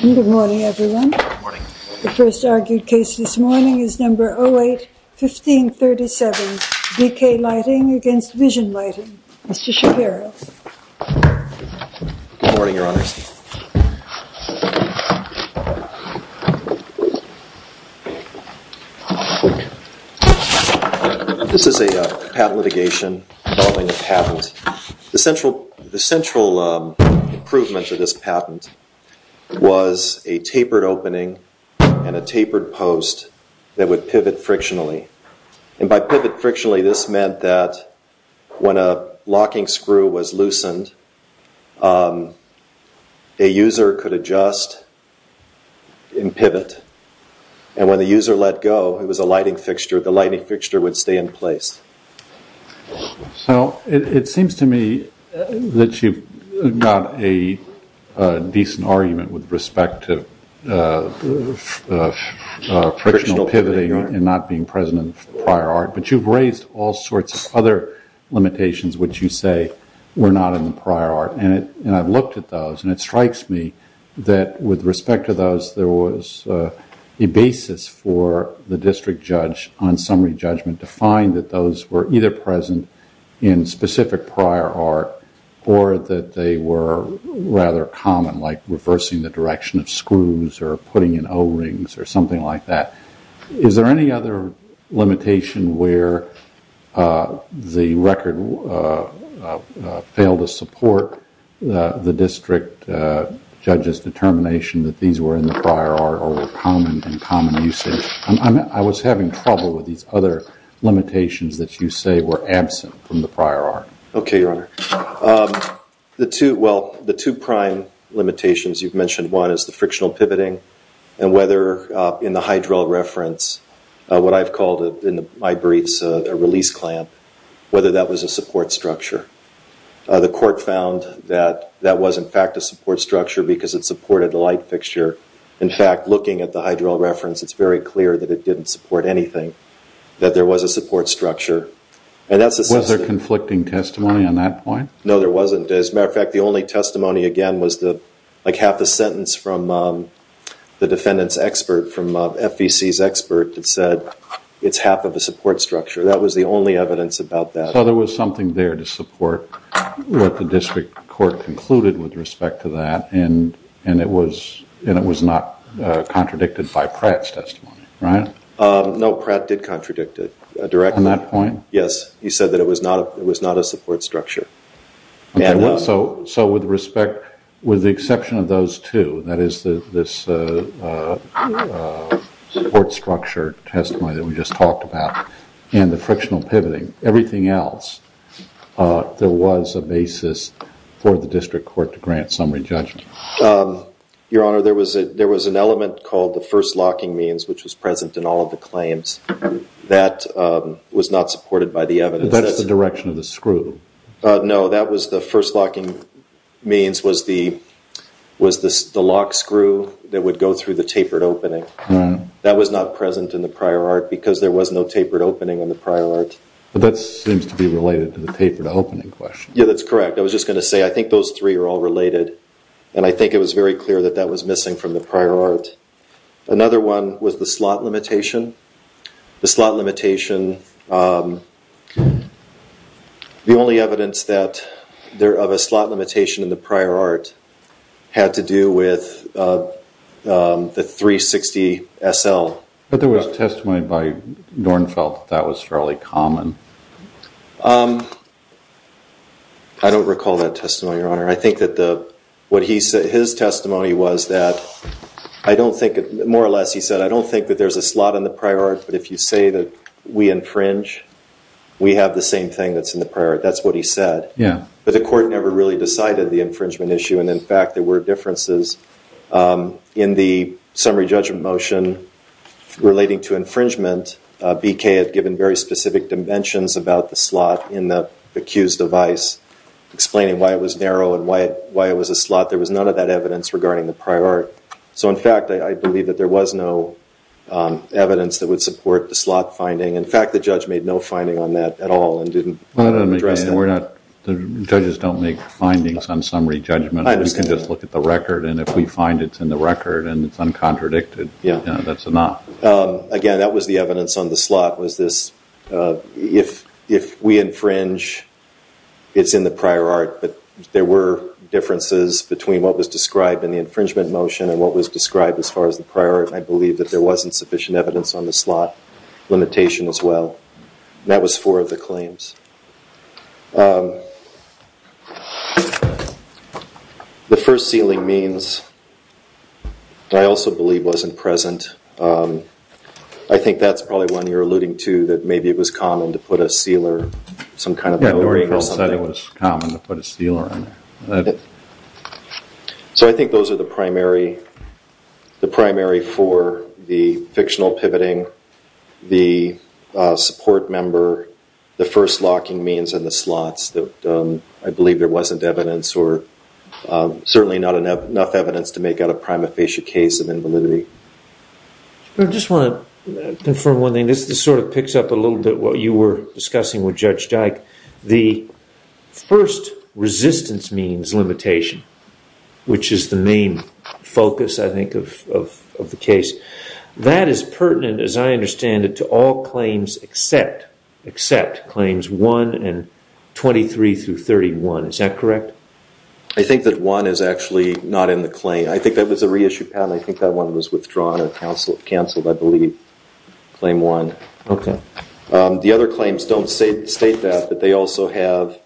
Good morning, everyone. The first argued case this morning is number 08-1537, B-K Lighting v. Vision Lighting. Mr. Shapiro. Good morning, Your Honors. This is a patent litigation involving a patent. The central improvement to this patent was a tapered opening and a tapered post that would pivot frictionally. By pivot frictionally, this meant that when a locking screw was loosened, a user could adjust and pivot. When the user let go, it was a lighting fixture. The lighting fixture would stay in place. It seems to me that you've got a decent argument with respect to frictional pivoting and not being present in the prior art. But you've raised all sorts of other limitations which you say were not in the prior art. I've looked at those and it strikes me that with respect to those, there was a basis for the district judge on summary judgment to find that those were either present in specific prior art or that they were rather common like reversing the direction of screws or putting in O-rings or something like that. Is there any other limitation where the record failed to support the district judge's determination that these were in the prior art or were common in common usage? I was having trouble with these other limitations that you say were absent from the prior art. The two prime limitations you've mentioned, one is the frictional pivoting and whether in the hydral reference, what I've called in my briefs a release clamp, whether that was a support structure. The court found that that was in fact a support structure because it supported the light fixture. In fact, looking at the hydral reference, it's very clear that it didn't support anything, that there was a support structure. Was there conflicting testimony on that point? No, there wasn't. As a matter of fact, the only testimony again was like half the sentence from the defendant's expert, from FEC's expert that said it's half of a support structure. That was the only evidence about that. So there was something there to support what the district court concluded with respect to that and it was not contradicted by Pratt's testimony, right? No, Pratt did contradict it directly. On that point? Yes, he said that it was not a support structure. So with respect, with the exception of those two, that is this support structure testimony that we just talked about and the frictional pivoting, everything else, there was a basis for the district court to grant summary judgment. Your Honor, there was an element called the first locking means which was present in all of the claims. That was not supported by the evidence. That's the direction of the screw. No, that was the first locking means was the lock screw that would go through the tapered opening. That was not present in the prior art because there was no tapered opening in the prior art. But that seems to be related to the tapered opening question. Yeah, that's correct. I was just going to say I think those three are all related and I think it was very clear that that was missing from the prior art. Another one was the slot limitation. The slot limitation, the only evidence of a slot limitation in the prior art had to do with the 360 SL. But there was testimony by Dornfeld that that was fairly common. I don't recall that testimony, Your Honor. I think that what his testimony was that I don't think, more or less he said, I don't think that there's a slot in the prior art, but if you say that we infringe, we have the same thing that's in the prior art. That's what he said. Yeah. But the court never really decided the infringement issue. And, in fact, there were differences in the summary judgment motion relating to infringement. BK had given very specific dimensions about the slot in the accused's device explaining why it was narrow and why it was a slot. There was none of that evidence regarding the prior art. So, in fact, I believe that there was no evidence that would support the slot finding. In fact, the judge made no finding on that at all and didn't address that. The judges don't make findings on summary judgment. I understand. We can just look at the record, and if we find it's in the record and it's uncontradicted, that's enough. Again, that was the evidence on the slot was this, if we infringe, it's in the prior art. But there were differences between what was described in the infringement motion and what was described as far as the prior art. And I believe that there wasn't sufficient evidence on the slot limitation as well. That was four of the claims. The first, sealing means, I also believe wasn't present. I think that's probably one you're alluding to, that maybe it was common to put a sealer, some kind of coating or something. Yeah, Noreen said it was common to put a sealer on there. So I think those are the primary for the fictional pivoting, the support member, the first locking means in the slots that I believe there wasn't evidence, or certainly not enough evidence to make out a prima facie case of invalidity. I just want to confirm one thing. This sort of picks up a little bit what you were discussing with Judge Dyke. The first resistance means limitation, which is the main focus, I think, of the case, that is pertinent, as I understand it, to all claims except claims 1 and 23 through 31. Is that correct? I think that 1 is actually not in the claim. I think that was a reissued patent. I think that one was withdrawn or canceled, I believe, claim 1. The other claims don't state that, but they also have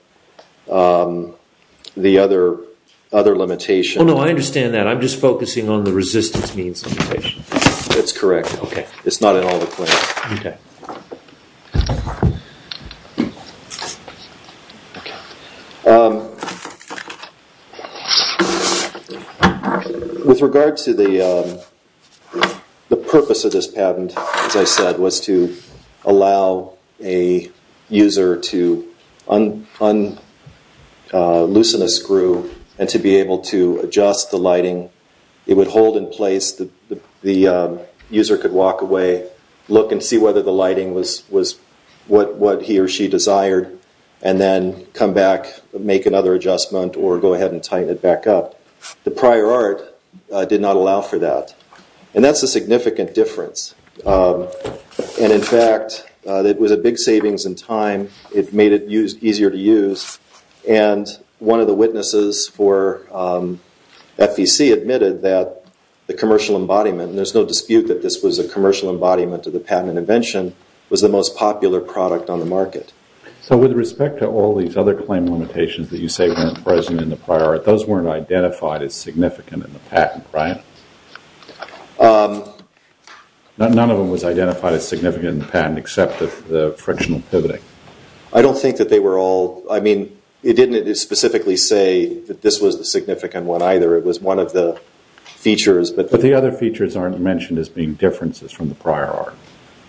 the other limitation. Oh no, I understand that. I'm just focusing on the resistance means limitation. That's correct. It's not in all the claims. Okay. With regard to the purpose of this patent, as I said, was to allow a user to loosen a screw and to be able to adjust the lighting. It would hold in place. The user could walk away, look and see whether the lighting was what he or she desired, and then come back, make another adjustment, or go ahead and tighten it back up. The prior art did not allow for that. That's a significant difference. In fact, it was a big savings in time. It made it easier to use. One of the witnesses for FEC admitted that the commercial embodiment, and there's no dispute that this was a commercial embodiment of the patent invention, was the most popular product on the market. With respect to all these other claim limitations that you say weren't present in the prior art, those weren't identified as significant in the patent, right? None of them was identified as significant in the patent except for the frictional pivoting. I don't think that they were all. I mean, it didn't specifically say that this was the significant one either. It was one of the features. But the other features aren't mentioned as being differences from the prior art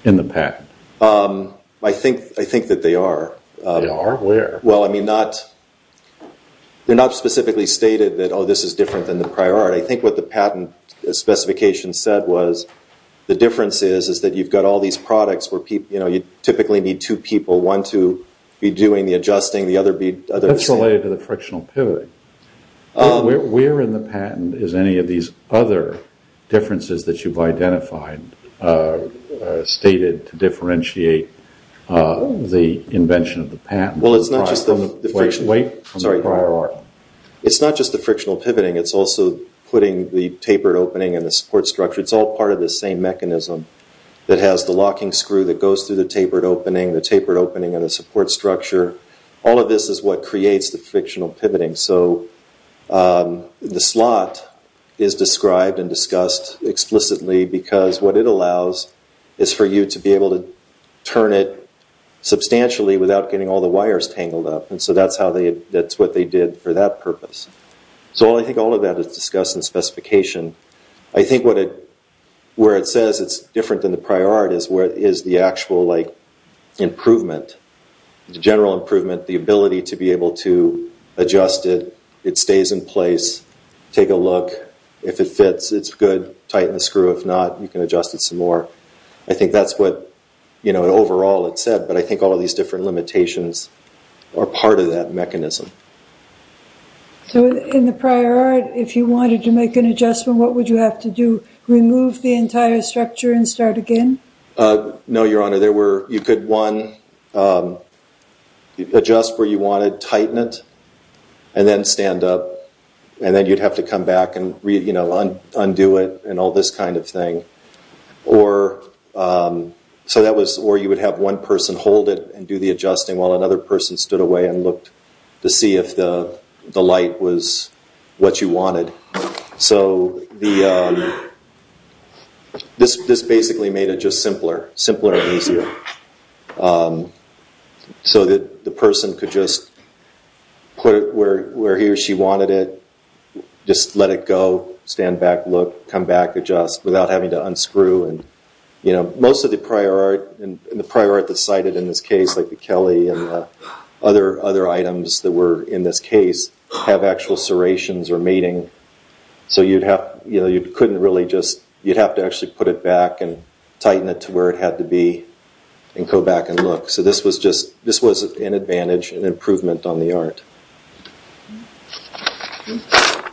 in the patent. I think that they are. They are? Where? Well, I mean, they're not specifically stated that, oh, this is different than the prior art. I think what the patent specification said was the difference is that you've got all these products where you typically need two people, one to be doing the adjusting, the other to be… That's related to the frictional pivoting. Where in the patent is any of these other differences that you've identified stated to differentiate the invention of the patent from the prior art? It's not just the frictional pivoting. It's also putting the tapered opening in the support structure. It's all part of the same mechanism that has the locking screw that goes through the tapered opening, the tapered opening and the support structure. All of this is what creates the frictional pivoting. So the slot is described and discussed explicitly because what it allows is for you to be able to turn it substantially without getting all the wires tangled up. And so that's what they did for that purpose. So I think all of that is discussed in the specification. I think where it says it's different than the prior art is where it is the actual improvement, the general improvement, the ability to be able to adjust it. It stays in place. Take a look. If it fits, it's good. Tighten the screw. If not, you can adjust it some more. I think that's what overall it said. But I think all of these different limitations are part of that mechanism. So in the prior art, if you wanted to make an adjustment, what would you have to do? Remove the entire structure and start again? No, Your Honor. You could, one, adjust where you wanted, tighten it, and then stand up. And then you'd have to come back and undo it and all this kind of thing. Or you would have one person hold it and do the adjusting while another person stood away and looked to see if the light was what you wanted. So this basically made it just simpler. Simpler and easier. So that the person could just put it where he or she wanted it, just let it go, stand back, look, come back, adjust, without having to unscrew. Most of the prior art that's cited in this case, like the Kelly and other items that were in this case, have actual serrations or mating. So you'd have to actually put it back and tighten it to where it had to be and go back and look. So this was an advantage, an improvement on the art.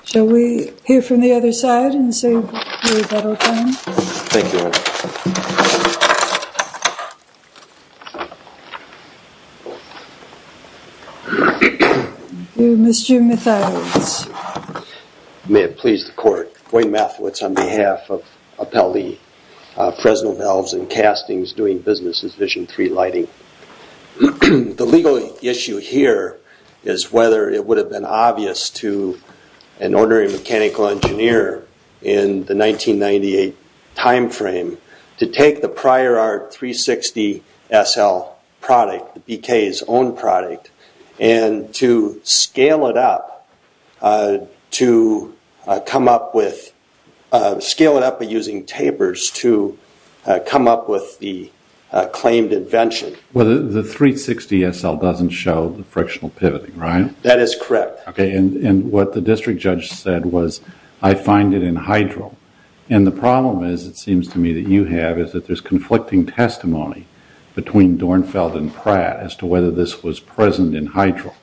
Shall we hear from the other side and see if that will come? Thank you, Your Honor. Mr. Mathiewicz. May it please the Court, Wayne Mathiewicz on behalf of Appellee Fresno Delves and Castings, doing business with Vision 3 Lighting. The legal issue here is whether it would have been obvious to an ordinary mechanical engineer in the 1998 timeframe to take the prior art 360 SL product, the BK's own product, and to scale it up by using tapers to come up with the claimed invention. Well, the 360 SL doesn't show the frictional pivoting, right? That is correct. Okay, and what the district judge said was, I find it in hydro. And the problem is, it seems to me that you have, is that there's conflicting testimony between Dornfeld and Pratt as to whether this was present in hydro.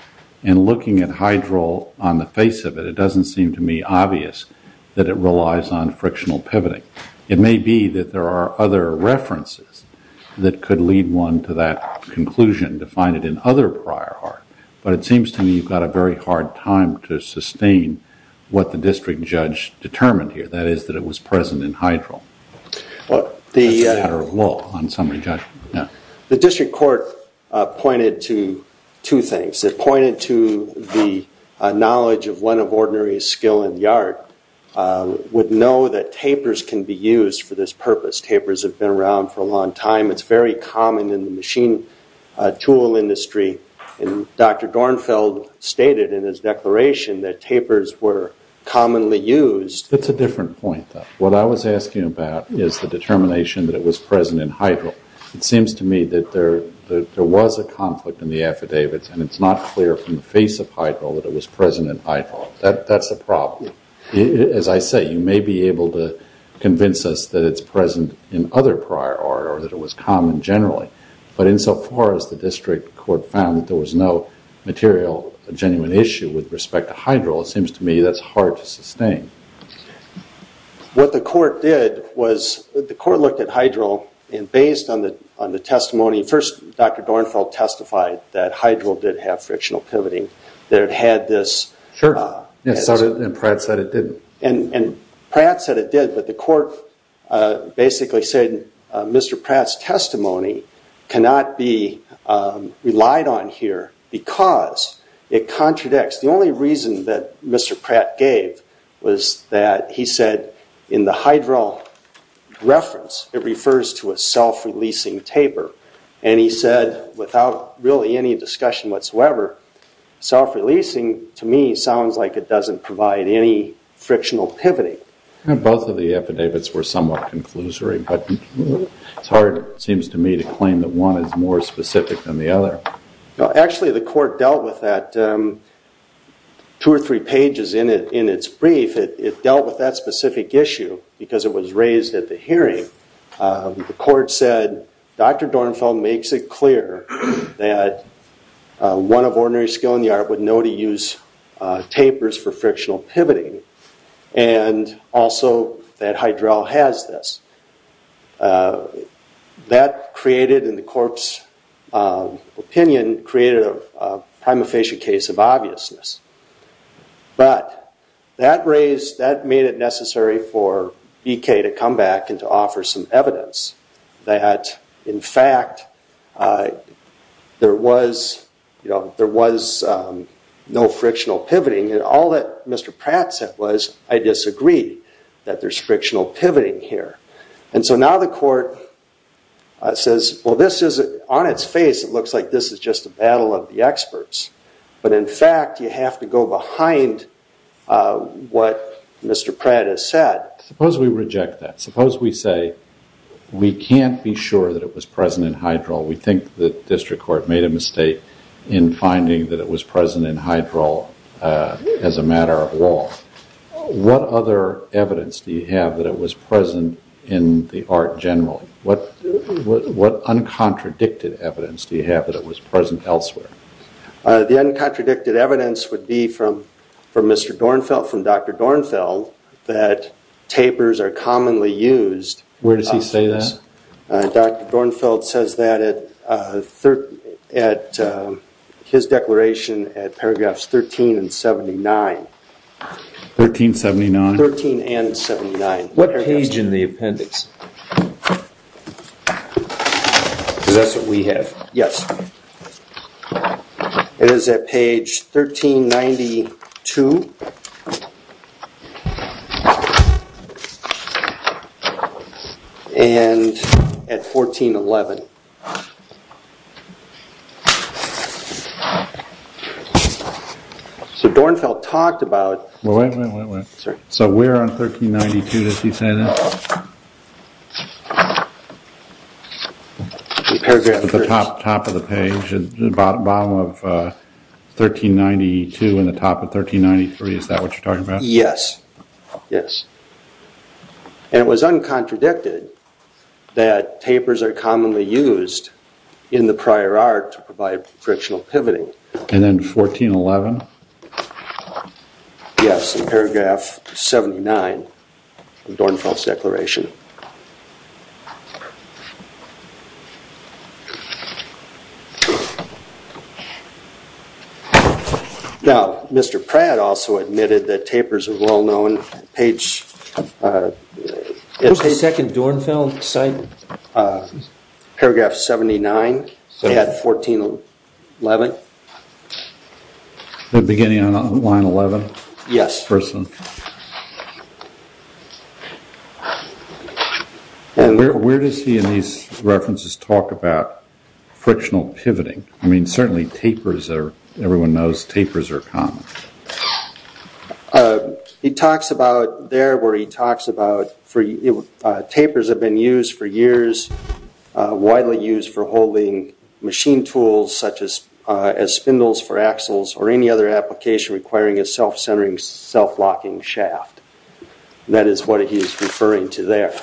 And looking at hydro on the face of it, it doesn't seem to me obvious that it relies on frictional pivoting. It may be that there are other references that could lead one to that conclusion, to find it in other prior art. But it seems to me you've got a very hard time to sustain what the district judge determined here, that is that it was present in hydro. That's a matter of law on summary judgment. The district court pointed to two things. It pointed to the knowledge of one of ordinary skill in the art, would know that tapers can be used for this purpose. Tapers have been around for a long time. It's very common in the machine tool industry. And Dr. Dornfeld stated in his declaration that tapers were commonly used. That's a different point, though. What I was asking about is the determination that it was present in hydro. It seems to me that there was a conflict in the affidavits and it's not clear from the face of hydro that it was present in hydro. That's a problem. As I say, you may be able to convince us that it's present in other prior art or that it was common generally. But insofar as the district court found that there was no material genuine issue with respect to hydro, it seems to me that's hard to sustain. What the court did was the court looked at hydro and based on the testimony, first Dr. Dornfeld testified that hydro did have frictional pivoting, that it had this. Sure. And Pratt said it didn't. And Pratt said it did, but the court basically said Mr. Pratt's testimony cannot be relied on here because it contradicts. The only reason that Mr. Pratt gave was that he said in the hydro reference, it refers to a self-releasing taper. And he said without really any discussion whatsoever, self-releasing to me sounds like it doesn't provide any frictional pivoting. Both of the affidavits were somewhat conclusory, but it's hard, it seems to me, to claim that one is more specific than the other. Actually, the court dealt with that two or three pages in its brief. It dealt with that specific issue because it was raised at the hearing. The court said Dr. Dornfeld makes it clear that one of ordinary skill in the art would know to use tapers for frictional pivoting and also that hydro has this. That created, in the court's opinion, created a prima facie case of obviousness. But that made it necessary for BK to come back and to offer some evidence that, in fact, there was no frictional pivoting. And all that Mr. Pratt said was, I disagree that there's frictional pivoting here. And so now the court says, well, on its face, it looks like this is just a battle of the experts. But in fact, you have to go behind what Mr. Pratt has said. Suppose we reject that. Suppose we say we can't be sure that it was present in hydro. We think the district court made a mistake in finding that it was present in hydro as a matter of law. What other evidence do you have that it was present in the art general? What what uncontradicted evidence do you have that it was present elsewhere? The uncontradicted evidence would be from for Mr. Dornfeld from Dr. Dornfeld that tapers are commonly used. Where does he say this? Dr. Dornfeld says that at his declaration at paragraphs 13 and 79. 1379? 13 and 79. What page in the appendix? Because that's what we have. Yes. It is at page 1392. And at 1411. So Dornfeld talked about... Wait, wait, wait. So where on 1392 does he say that? At the top of the page, the bottom of 1392 and the top of 1393, is that what you're talking about? Yes. Yes. And it was uncontradicted that tapers are commonly used in the prior art to provide frictional pivoting. And then 1411? Yes. In paragraph 79 of Dornfeld's declaration. Now, Mr. Pratt also admitted that tapers are well known. Page... What page is that in Dornfeld's site? Paragraph 79. At 1411. The beginning on line 11? Yes. First one. And where does he in these references talk about frictional pivoting? I mean, certainly tapers are... Everyone knows tapers are common. He talks about there where he talks about... Tapers have been used for years, widely used for holding machine tools such as spindles for axles or any other application requiring a self-centering, self-locking shaft. That is what he is referring to there.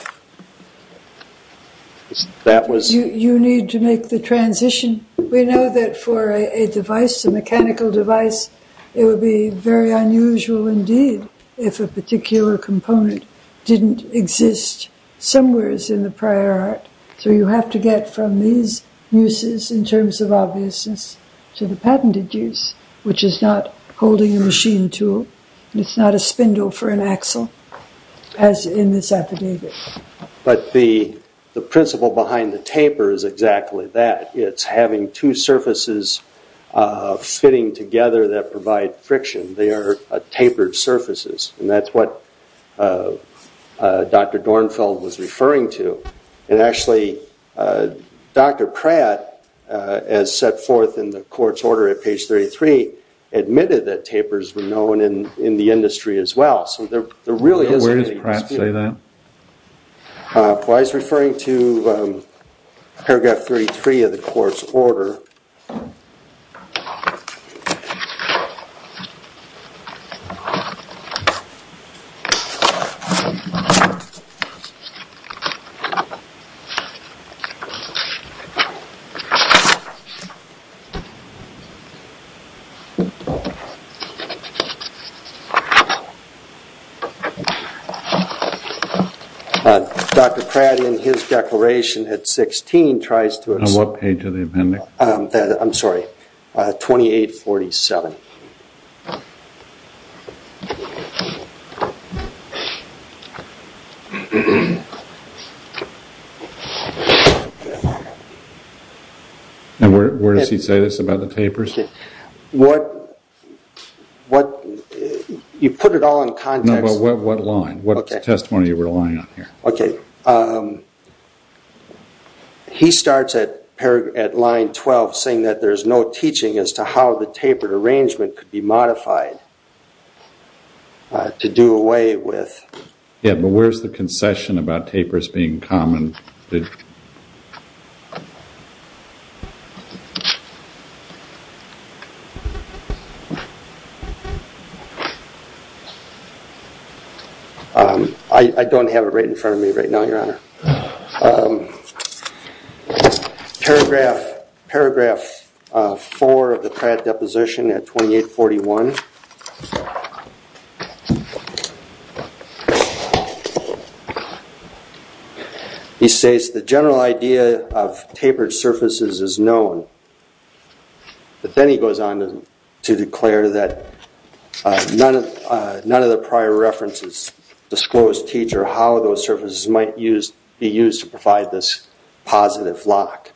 That was... You need to make the transition. We know that for a device, a mechanical device, it would be very unusual indeed if a particular component didn't exist somewheres in the prior art. So you have to get from these uses in terms of obviousness to the patented use, which is not holding a machine tool. It's not a spindle for an axle, as in this affidavit. But the principle behind the taper is exactly that. It's having two surfaces fitting together that provide friction. They are tapered surfaces. And that's what Dr. Dornfeld was referring to. And actually, Dr. Pratt, as set forth in the court's order at page 33, admitted that tapers were known in the industry as well. So there really isn't... Where does Pratt say that? Well, I was referring to paragraph 33 of the court's order. Dr. Pratt, in his declaration at 16, tries to... On what page of the appendix? I'm sorry, 2847. And where does he say this about the tapers? What... You put it all in context. No, but what line? What testimony are you relying on here? Okay. He starts at line 12, saying that there's no teaching as to how the tapered arrangement could be modified to do away with... Yeah, but where's the concession about tapers being common? I don't have it right in front of me right now, Your Honor. Paragraph 4 of the Pratt deposition at 2841. He says, the general idea of tapered surfaces is known. But then he goes on to declare that none of the prior references disclose to each other how those surfaces might be used to provide this positive lock.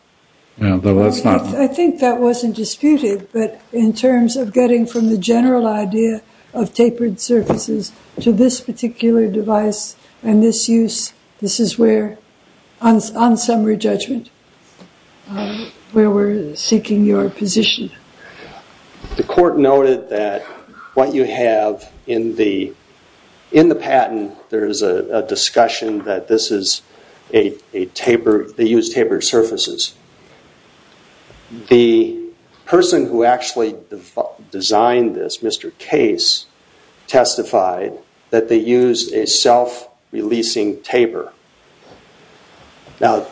Yeah, but that's not... I think that wasn't disputed, but in terms of getting from the general idea of tapered surfaces to this particular device and this use, this is where, on summary judgment, where we're seeking your position. The court noted that what you have in the patent, there is a discussion that this is a tapered... they use tapered surfaces. The person who actually designed this, Mr. Case, testified that they used a self-releasing taper. Now,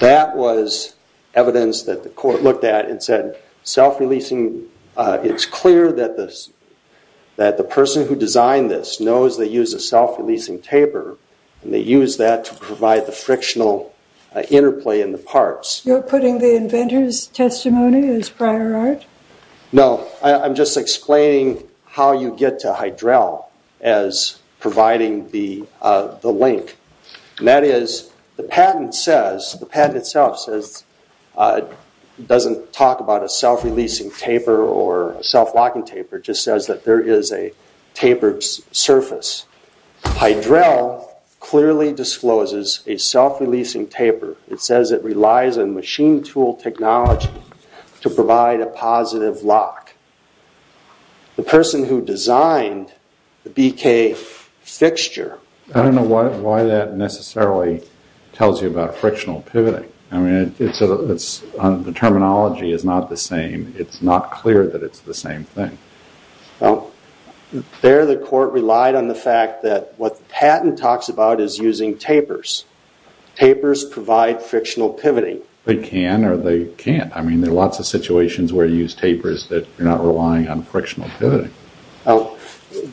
that was evidence that the court looked at and said, self-releasing... It's clear that the person who designed this knows they used a self-releasing taper, and they used that to provide the frictional interplay in the parts. You're putting the inventor's testimony as prior art? No, I'm just explaining how you get to hydrel as providing the link. And that is, the patent says... The patent itself says... It doesn't talk about a self-releasing taper or a self-locking taper. It just says that there is a tapered surface. Hydrel clearly discloses a self-releasing taper. It says it relies on machine tool technology to provide a positive lock. The person who designed the BK fixture... I don't know why that necessarily tells you about frictional pivoting. I mean, the terminology is not the same. It's not clear that it's the same thing. Well, there the court relied on the fact that what the patent talks about is using tapers. Tapers provide frictional pivoting. They can or they can't. I mean, there are lots of situations where you use tapers that you're not relying on frictional pivoting.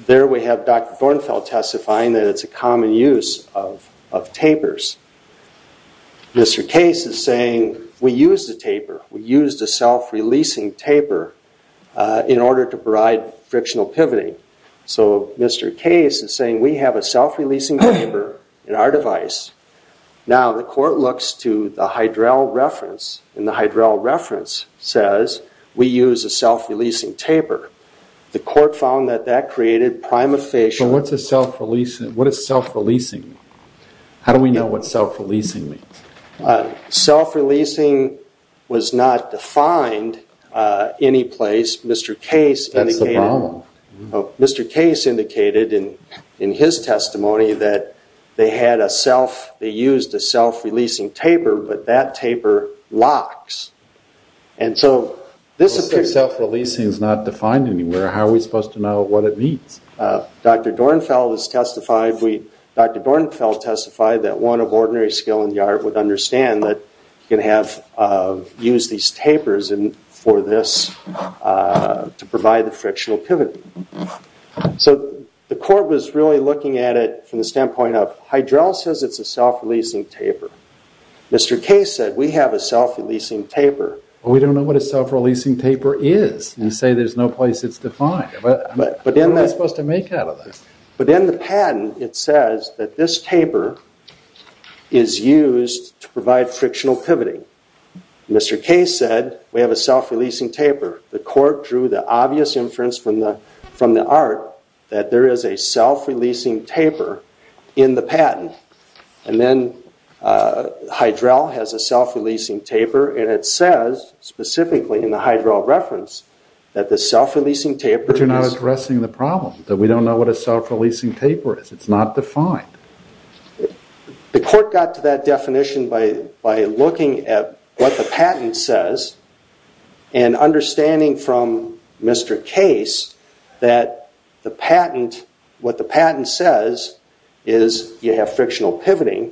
There we have Dr. Thornfeld testifying that it's a common use of tapers. Mr. Case is saying, we used a taper. We used a self-releasing taper in order to provide frictional pivoting. So Mr. Case is saying, we have a self-releasing taper in our device. Now, the court looks to the Hydrel reference, and the Hydrel reference says, we use a self-releasing taper. The court found that that created prima facie... So what's a self-releasing? What is self-releasing? How do we know what self-releasing means? Self-releasing was not defined anyplace. Mr. Case indicated... That's the problem. They used a self-releasing taper, but that taper locks. Self-releasing is not defined anywhere. How are we supposed to know what it means? Dr. Thornfeld testified that one of ordinary skill in the art would understand that you can use these tapers for this to provide the frictional pivoting. So the court was really looking at it from the standpoint of... Hydrel says it's a self-releasing taper. Mr. Case said, we have a self-releasing taper. We don't know what a self-releasing taper is. You say there's no place it's defined. What am I supposed to make out of this? But in the patent, it says that this taper is used to provide frictional pivoting. Mr. Case said, we have a self-releasing taper. The court drew the obvious inference from the art that there is a self-releasing taper in the patent. And then Hydrel has a self-releasing taper, and it says specifically in the Hydrel reference that the self-releasing taper is... But you're not addressing the problem, that we don't know what a self-releasing taper is. It's not defined. The court got to that definition by looking at what the patent says and understanding from Mr. Case that what the patent says is you have frictional pivoting.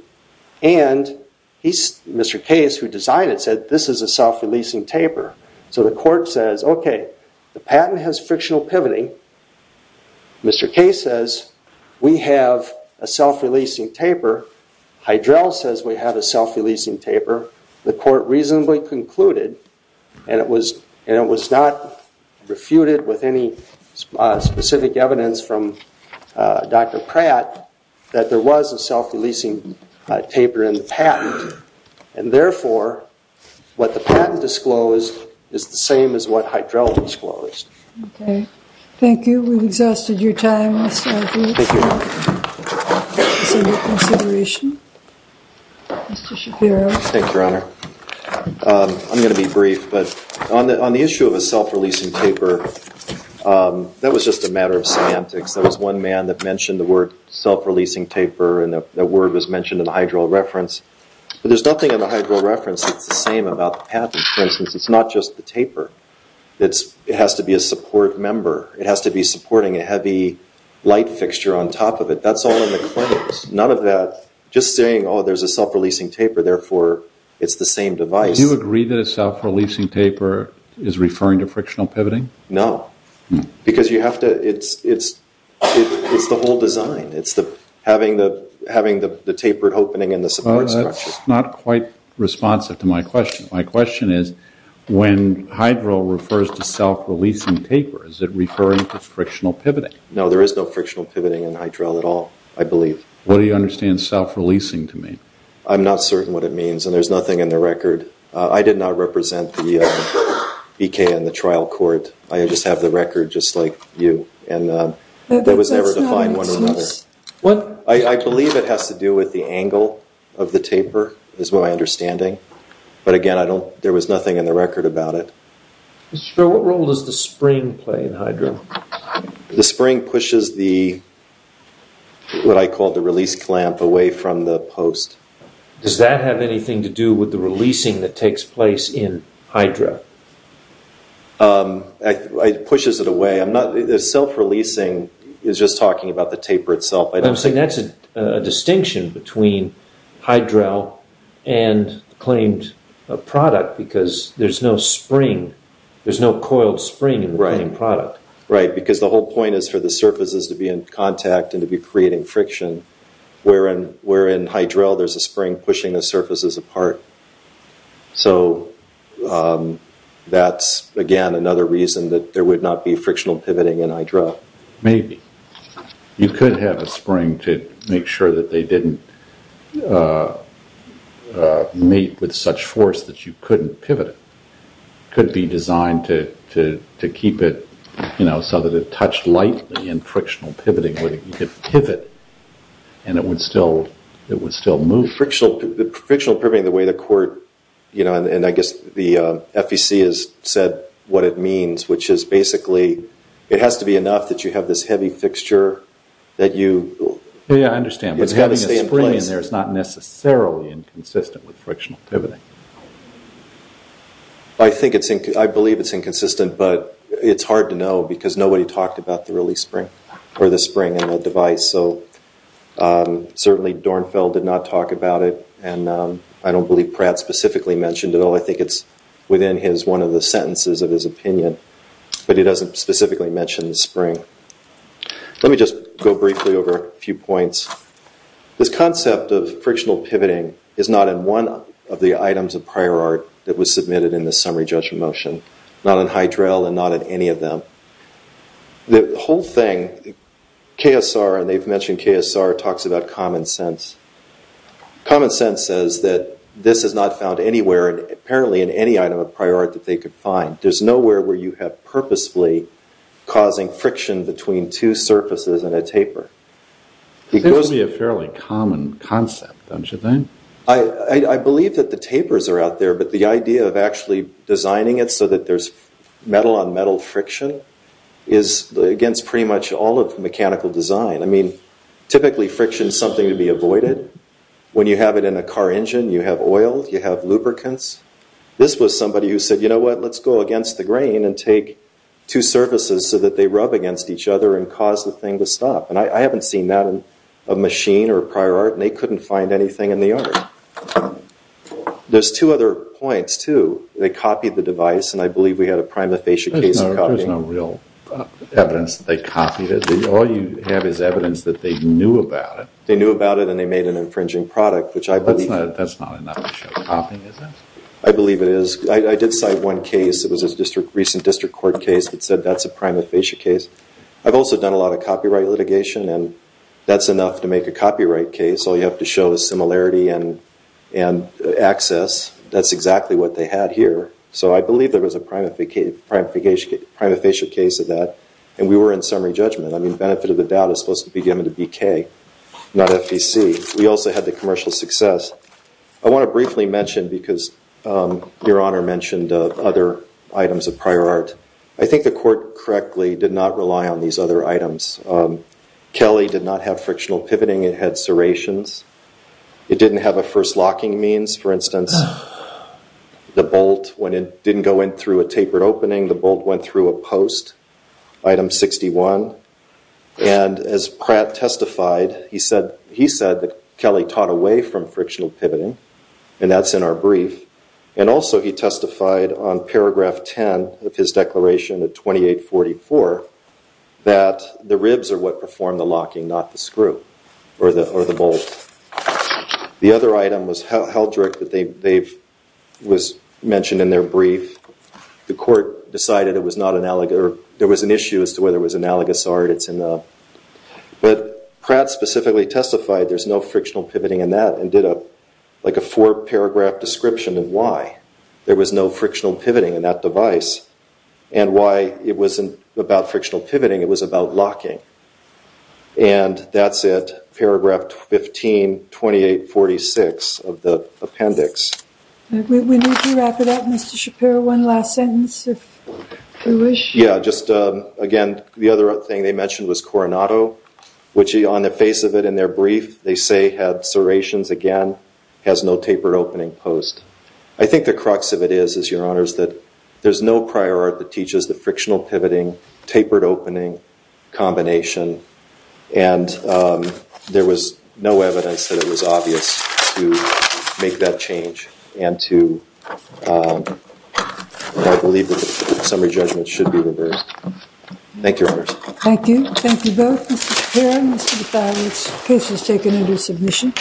And Mr. Case, who designed it, said this is a self-releasing taper. So the court says, okay, the patent has frictional pivoting. Mr. Case says, we have a self-releasing taper. Hydrel says we have a self-releasing taper. However, the court reasonably concluded, and it was not refuted with any specific evidence from Dr. Pratt, that there was a self-releasing taper in the patent. And therefore, what the patent disclosed is the same as what Hydrel disclosed. Okay. Thank you. We've exhausted your time. Thank you. Is there any consideration? Mr. Shapiro. Thank you, Your Honor. I'm going to be brief, but on the issue of a self-releasing taper, that was just a matter of semantics. There was one man that mentioned the word self-releasing taper, and the word was mentioned in the Hydrel reference. But there's nothing in the Hydrel reference that's the same about the patent. For instance, it's not just the taper. It has to be a support member. It has to be supporting a heavy light fixture on top of it. That's all in the claims. None of that, just saying, oh, there's a self-releasing taper, therefore it's the same device. Do you agree that a self-releasing taper is referring to frictional pivoting? No. Because you have to, it's the whole design. It's having the tapered opening and the support structure. That's not quite responsive to my question. My question is, when Hydrel refers to self-releasing tapers, is it referring to frictional pivoting? No, there is no frictional pivoting in Hydrel at all, I believe. What do you understand self-releasing to mean? I'm not certain what it means, and there's nothing in the record. I did not represent the EK and the trial court. I just have the record just like you, and that was never defined one way or another. I believe it has to do with the angle of the taper is my understanding. But, again, there was nothing in the record about it. Mr. Schroer, what role does the spring play in Hydrel? The spring pushes the, what I call the release clamp, away from the post. Does that have anything to do with the releasing that takes place in Hydrel? It pushes it away. Self-releasing is just talking about the taper itself. I'm saying that's a distinction between Hydrel and the claimed product because there's no spring, there's no coiled spring in the claimed product. Right, because the whole point is for the surfaces to be in contact and to be creating friction, where in Hydrel there's a spring pushing the surfaces apart. So that's, again, another reason that there would not be frictional pivoting in Hydrel. Maybe. You could have a spring to make sure that they didn't meet with such force that you couldn't pivot it. It could be designed to keep it so that it touched lightly in frictional pivoting. You could pivot and it would still move. Frictional pivoting, the way the court, and I guess the FEC has said what it means, which is basically it has to be enough that you have this heavy fixture that you... I understand, but having a spring in there is not necessarily inconsistent with frictional pivoting. I believe it's inconsistent, but it's hard to know because nobody talked about the release spring or the spring in the device. Certainly, Dornfeld did not talk about it, and I don't believe Pratt specifically mentioned it at all. I think it's within one of the sentences of his opinion, but he doesn't specifically mention the spring. Let me just go briefly over a few points. This concept of frictional pivoting is not in one of the items of prior art that was submitted in the summary judgment motion, not in Hydrel and not in any of them. The whole thing, KSR, and they've mentioned KSR, talks about common sense. Common sense says that this is not found anywhere, apparently, in any item of prior art that they could find. There's nowhere where you have purposefully causing friction between two surfaces in a taper. This would be a fairly common concept, don't you think? I believe that the tapers are out there, but the idea of actually designing it so that there's metal-on-metal friction is against pretty much all of mechanical design. I mean, typically friction is something to be avoided. When you have it in a car engine, you have oil, you have lubricants. This was somebody who said, you know what, let's go against the grain and take two surfaces so that they rub against each other and cause the thing to stop. I haven't seen that in a machine or prior art, and they couldn't find anything in the art. There's two other points, too. They copied the device, and I believe we had a prima facie case of copying. There's no real evidence that they copied it. All you have is evidence that they knew about it. They knew about it, and they made an infringing product, which I believe— That's not enough to show copying, is it? I believe it is. I did cite one case. It was a recent district court case that said that's a prima facie case. I've also done a lot of copyright litigation, and that's enough to make a copyright case. All you have to show is similarity and access. That's exactly what they had here. So I believe there was a prima facie case of that, and we were in summary judgment. I mean benefit of the doubt is supposed to be given to BK, not FEC. We also had the commercial success. I want to briefly mention because Your Honor mentioned other items of prior art. I think the court correctly did not rely on these other items. Kelly did not have frictional pivoting. It had serrations. It didn't have a first locking means. For instance, the bolt, when it didn't go in through a tapered opening, the bolt went through a post. Item 61. And as Pratt testified, he said that Kelly taught away from frictional pivoting, and that's in our brief. And also he testified on paragraph 10 of his declaration at 2844 that the ribs are what perform the locking, not the screw or the bolt. The other item was heldrick that was mentioned in their brief. The court decided there was an issue as to whether it was analogous art. But Pratt specifically testified there's no frictional pivoting in that and did a four-paragraph description of why there was no frictional pivoting in that device and why it wasn't about frictional pivoting. It was about locking. And that's it, paragraph 15, 2846 of the appendix. We need to wrap it up, Mr. Shapiro. One last sentence, if you wish. Yeah, just again, the other thing they mentioned was Coronado, which on the face of it in their brief, they say had serrations again, has no tapered opening post. I think the crux of it is, is, Your Honors, that there's no prior art that teaches the frictional pivoting, tapered opening combination. And there was no evidence that it was obvious to make that change. And to, I believe that the summary judgment should be reversed. Thank you, Your Honors. Thank you. Thank you both, Mr. Shapiro and Mr. Defani. This case is taken under submission.